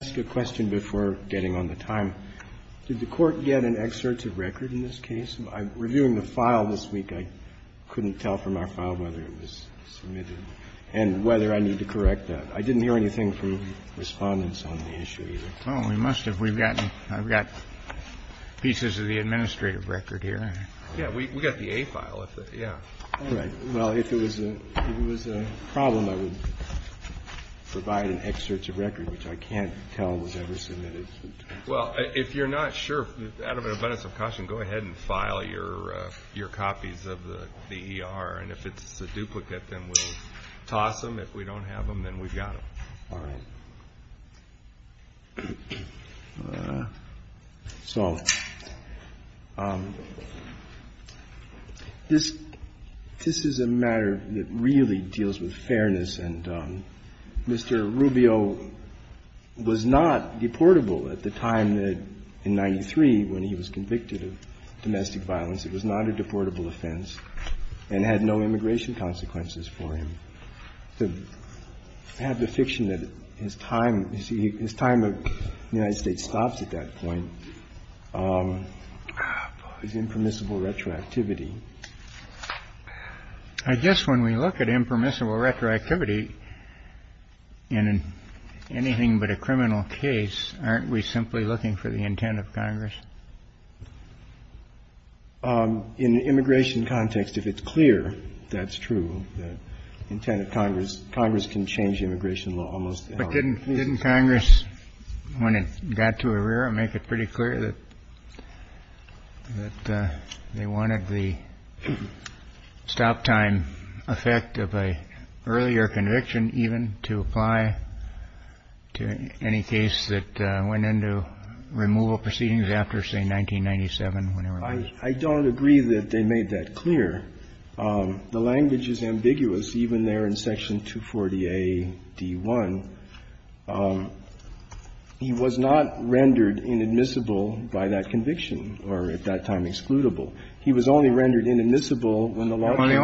Did the court get an excerpt of record in this case? Reviewing the file this week, I couldn't tell from our file whether it was submitted and whether I need to correct that. I didn't hear anything from respondents on the issue either. Well, we must have. I've got pieces of the administrative record here. Yeah, we got the A file. All right. Well, if it was a problem, I would provide an excerpt of record, which I can't tell was ever submitted. Well, if you're not sure, out of an abundance of caution, go ahead and file your copies of the E.R. And if it's a duplicate, then we'll toss them. If we don't have them, then we've got them. All right. So this is a matter that really deals with fairness. And Mr. Rubio was not deportable at the time in 93 when he was convicted of domestic violence. It was not a deportable offense and had no immigration consequences for him. The fact of the fiction that his time, you see, his time in the United States stops at that point is impermissible retroactivity. I guess when we look at impermissible retroactivity in anything but a criminal case, aren't we simply looking for the intent of Congress? In an immigration context, if it's clear that's true, the intent of Congress, Congress can change immigration law almost. But didn't Congress, when it got to Herrera, make it pretty clear that they wanted the stop time effect of an earlier conviction even to apply to any case that went into removal proceedings after, say, 1997, whenever it was? I don't agree that they made that clear. The language is ambiguous even there in Section 240A.D.1. He was not rendered inadmissible by that conviction or at that time excludable. He was only rendered inadmissible when the law was changed. But he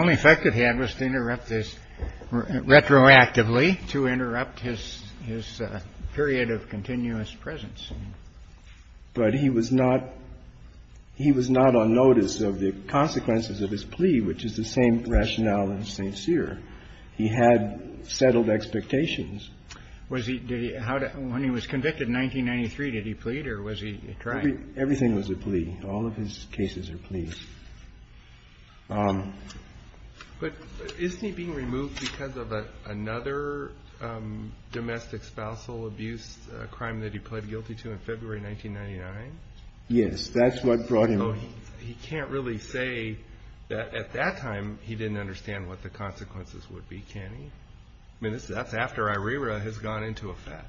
was not on notice of the consequences of his plea, which is the same rationale in St. Cyr. He had settled expectations. Was he ñ did he ñ when he was convicted in 1993, did he plead or was he trying? Everything was a plea. All of his cases are pleas. But isn't he being re-examined? Was he removed because of another domestic spousal abuse crime that he pled guilty to in February 1999? Yes. That's what brought him. So he can't really say that at that time he didn't understand what the consequences would be, can he? I mean, that's after Herrera has gone into effect.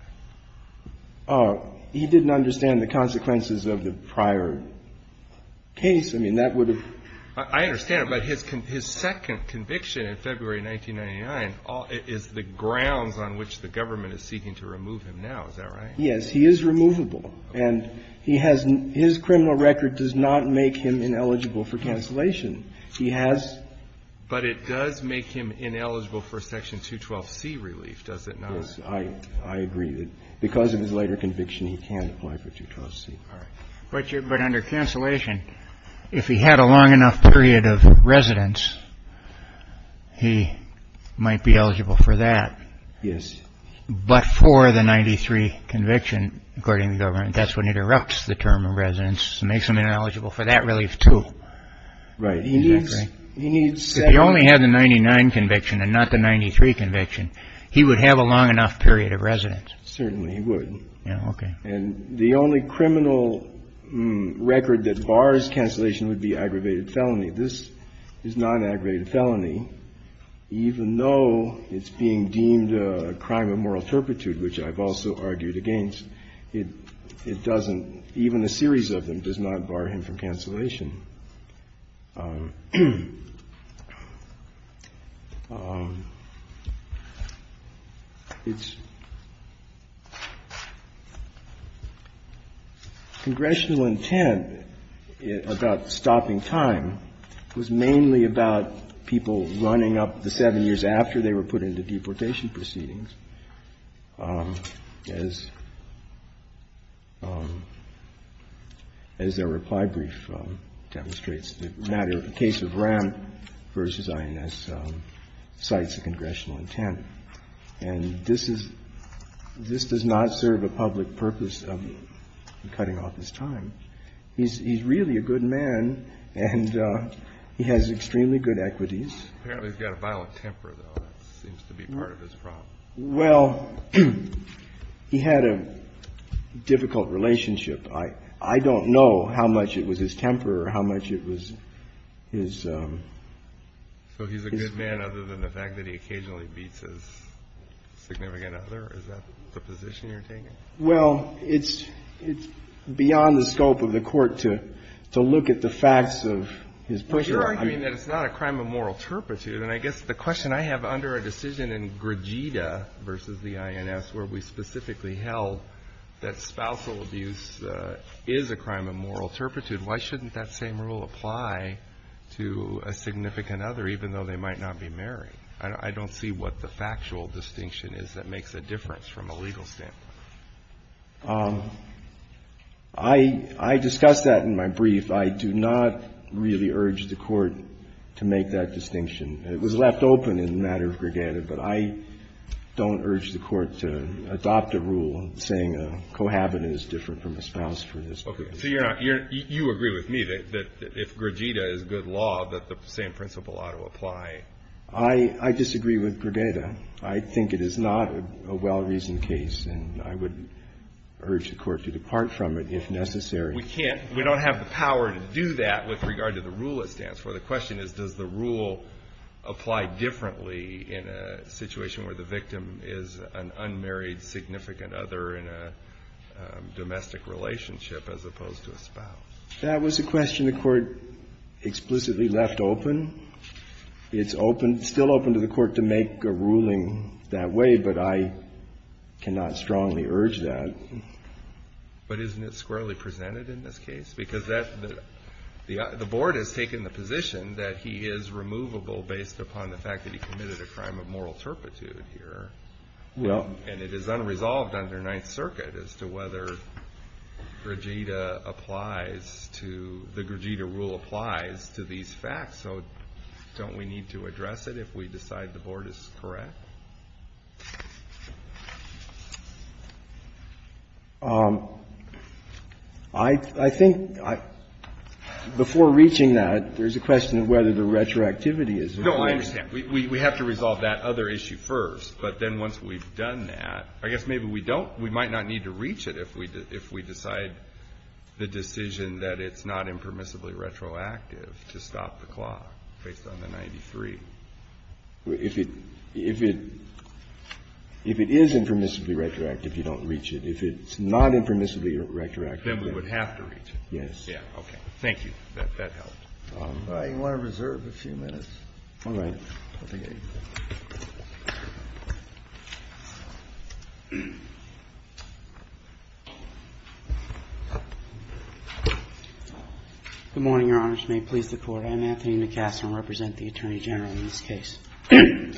He didn't understand the consequences of the prior case. I mean, that would have ñ I understand. But his second conviction in February 1999 is the grounds on which the government is seeking to remove him now, is that right? Yes. He is removable. And he has ñ his criminal record does not make him ineligible for cancellation. He has ñ But it does make him ineligible for Section 212C relief, does it not? Yes. I agree that because of his later conviction, he can't apply for 212C. All right. But under cancellation, if he had a long enough period of residence, he might be eligible for that. Yes. But for the 93 conviction, according to the government, that's when it erupts the term of residence and makes him ineligible for that relief too. Right. He needs ñ If he only had the 99 conviction and not the 93 conviction, he would have a long enough period of residence. Certainly he would. Yeah, okay. And the only criminal record that bars cancellation would be aggravated felony. This is non-aggravated felony, even though it's being deemed a crime of moral turpitude, which I've also argued against. It doesn't ñ even a series of them does not bar him from cancellation. Its congressional intent about stopping time was mainly about people running up the 7 years after they were put into deportation proceedings. As their reply brief demonstrates, the matter of the case of Ramp v. INS cites a congressional intent. And this is ñ this does not serve a public purpose of cutting off his time. He's really a good man, and he has extremely good equities. Apparently he's got a violent temper, though. That seems to be part of his problem. Well, he had a difficult relationship. I don't know how much it was his temper or how much it was his ñ So he's a good man other than the fact that he occasionally beats his significant other? Is that the position you're taking? Well, it's ñ it's beyond the scope of the Court to look at the facts of his personal ñ But you're arguing that it's not a crime of moral turpitude. And I guess the question I have under a decision in Gregida v. the INS where we specifically held that spousal abuse is a crime of moral turpitude, why shouldn't that same rule apply to a significant other, even though they might not be married? I don't see what the factual distinction is that makes a difference from a legal standpoint. I discussed that in my brief. I do not really urge the Court to make that distinction. It was left open in the matter of Gregida, but I don't urge the Court to adopt a rule saying a cohabitant is different from a spouse for this reason. Okay. So you're not ñ you agree with me that if Gregida is good law, that the same principle ought to apply? I disagree with Gregida. I think it is not a well-reasoned case, and I would urge the Court to depart from it if necessary. We can't ñ we don't have the power to do that with regard to the rule it stands for. The question is, does the rule apply differently in a situation where the victim is an unmarried significant other in a domestic relationship as opposed to a spouse? That was a question the Court explicitly left open. It's open ñ still open to the Court to make a ruling that way, but I cannot strongly urge that. But isn't it squarely presented in this case? Because that ñ the Board has taken the position that he is removable based upon the fact that he committed a crime of moral turpitude here. Well ñ And it is unresolved under Ninth Circuit as to whether Gregida applies to ñ the Gregida rule applies to these facts. So don't we need to address it if we decide the Board is correct? I think ñ before reaching that, there's a question of whether the retroactivity is ñ No, I understand. We have to resolve that other issue first. But then once we've done that, I guess maybe we don't ñ we might not need to reach it if we decide the decision that it's not impermissibly retroactive to stop the clock based on the 93. If it ñ if it is impermissibly retroactive, you don't reach it. If it's not impermissibly retroactive ñ Then we would have to reach it. Yes. Yeah. Okay. That helped. I want to reserve a few minutes. All right. Good morning, Your Honors. May it please the Court. I'm Anthony McCaslin. I represent the Attorney General in this case. The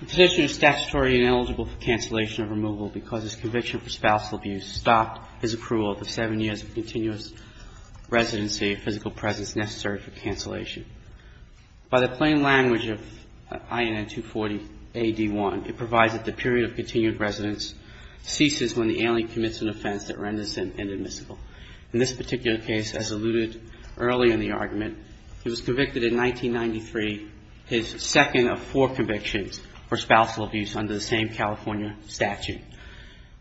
position is statutory and ineligible for cancellation of removal because his conviction for spousal abuse stopped his approval of the seven years of continuous residency, a physical presence necessary for cancellation. By the plain language of INN 240-AD1, it provides that the period of continued residence ceases when the alien commits an offense that renders them inadmissible. In this particular case, as alluded earlier in the argument, he was convicted in 1993, his second of four convictions for spousal abuse under the same California statute.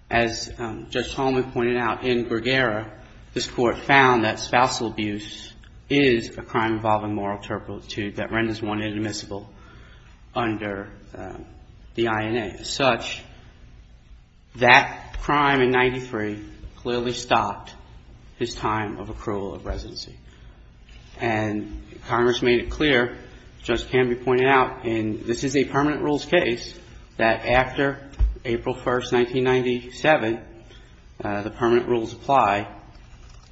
As Judge Tolman pointed out, in Gregera, this Court found that spousal abuse is a crime involving moral turpitude that renders one inadmissible under the INA. As such, that crime in 1993 clearly stopped his time of approval of residency. And Congress made it clear, Judge Canby pointed out, and this is a permanent rules case, that after April 1st, 1997, the permanent rules apply.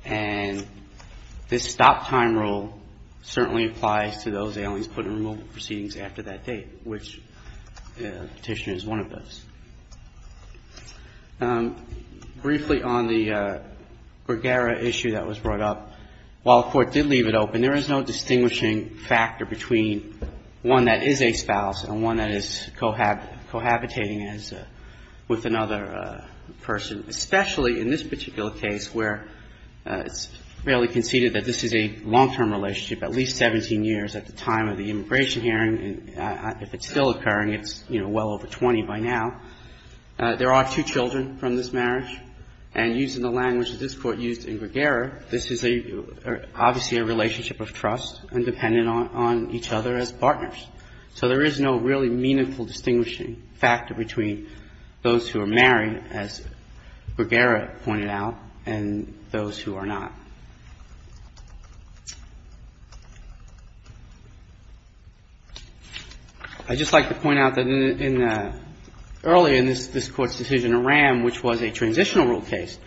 And this stop time rule certainly applies to those aliens put in removal proceedings after that date, which Petitioner is one of those. Briefly on the Gregera issue that was brought up, while the Court did leave it open, there is no distinguishing factor between one that is a spouse and one that is cohabitating with another person, especially in this particular case where it's fairly conceded that this is a long-term relationship, at least 17 years at the time of the immigration hearing. If it's still occurring, it's, you know, well over 20 by now. There are two children from this marriage. And using the language that this Court used in Gregera, this is obviously a relationship of trust and dependent on each other as partners. So there is no really meaningful distinguishing factor between those who are married, as Gregera pointed out, and those who are not. I'd just like to point out that in the – earlier in this Court's decision, in Ram, which was a transitional rule case,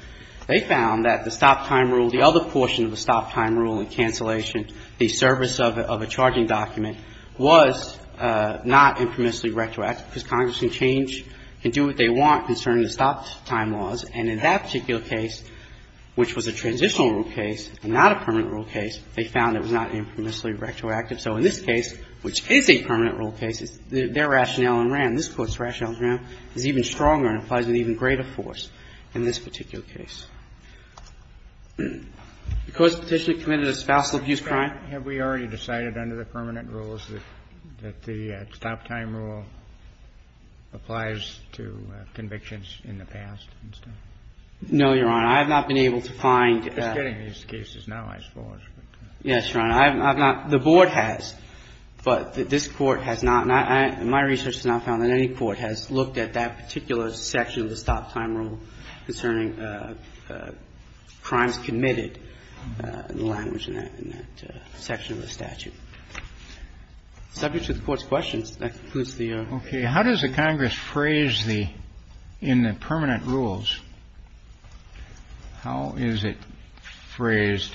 they found that the stop-time rule, the other portion of the stop-time rule in cancellation, the service of a charging document, was not infamously retroactive, because Congress can change, can do what they want concerning the stop-time laws. And in that particular case, which was a transitional rule case and not a permanent rule case, they found it was not infamously retroactive. So in this case, which is a permanent rule case, their rationale in Ram, this Court's in this particular case. The Court's petitioner committed a spousal abuse crime. Kennedy. Have we already decided under the permanent rules that the stop-time rule applies to convictions in the past and stuff? No, Your Honor. I have not been able to find – I'm just getting these cases now, I suppose. Yes, Your Honor. I have not – the Board has. But this Court has not – my research has not found that any Court has looked at that particular section of the stop-time rule concerning crimes committed in the language in that section of the statute. Subject to the Court's questions. That concludes the order. Okay. How does the Congress phrase the – in the permanent rules, how is it phrased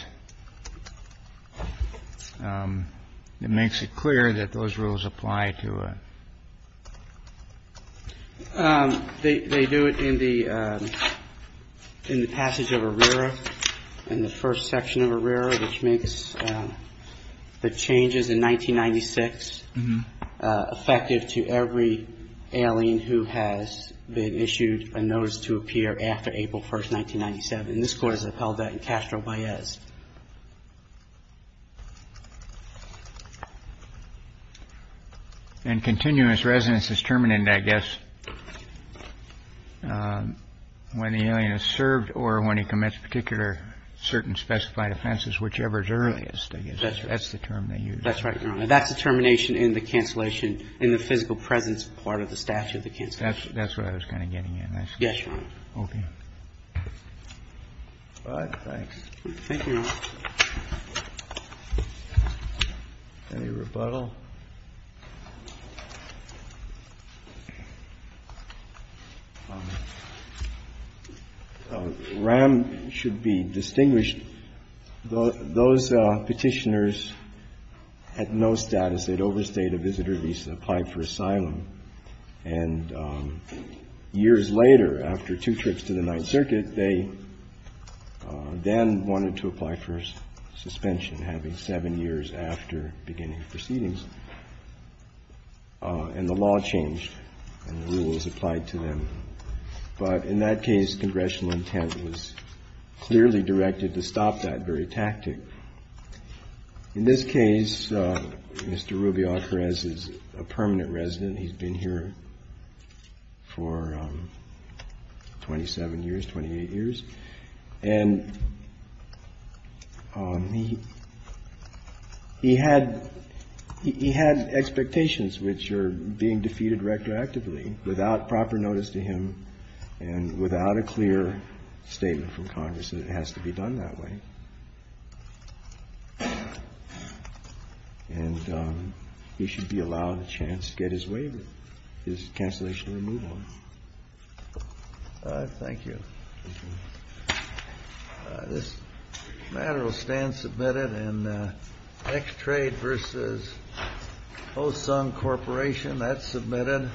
that makes it clear that those rules apply to a? They do it in the – in the passage of ARERA, in the first section of ARERA, which makes the changes in 1996 effective to every alien who has been issued a notice to appear after April 1st, 1997. And this Court has upheld that in Castro-Baez. And continuous residence is terminated, I guess, when the alien is served or when he commits particular certain specified offenses, whichever is earliest, I guess. That's right. That's the term they use. That's right, Your Honor. That's the termination in the cancellation – in the physical presence part of the statute, the cancellation. That's what I was kind of getting at. Yes, Your Honor. Okay. All right. Thanks. Thank you. Thank you. Any rebuttal? RAM should be distinguished. Those Petitioners had no status. They'd overstayed a visitor visa, applied for asylum. And years later, after two trips to the Ninth Circuit, they then wanted to apply for suspension, having seven years after beginning of proceedings. And the law changed, and the rules applied to them. But in that case, congressional intent was clearly directed to stop that very tactic. In this case, Mr. Rubio-Perez is a permanent resident. He's been here for 27 years, 28 years. And he had expectations which are being defeated retroactively, without proper notice to him and without a clear statement from Congress that it has to be done that way. And he should be allowed a chance to get his waiver, his cancellation removal. All right. Thank you. Thank you. This matter will stand submitted in X-Trade v. Osung Corporation. That's submitted.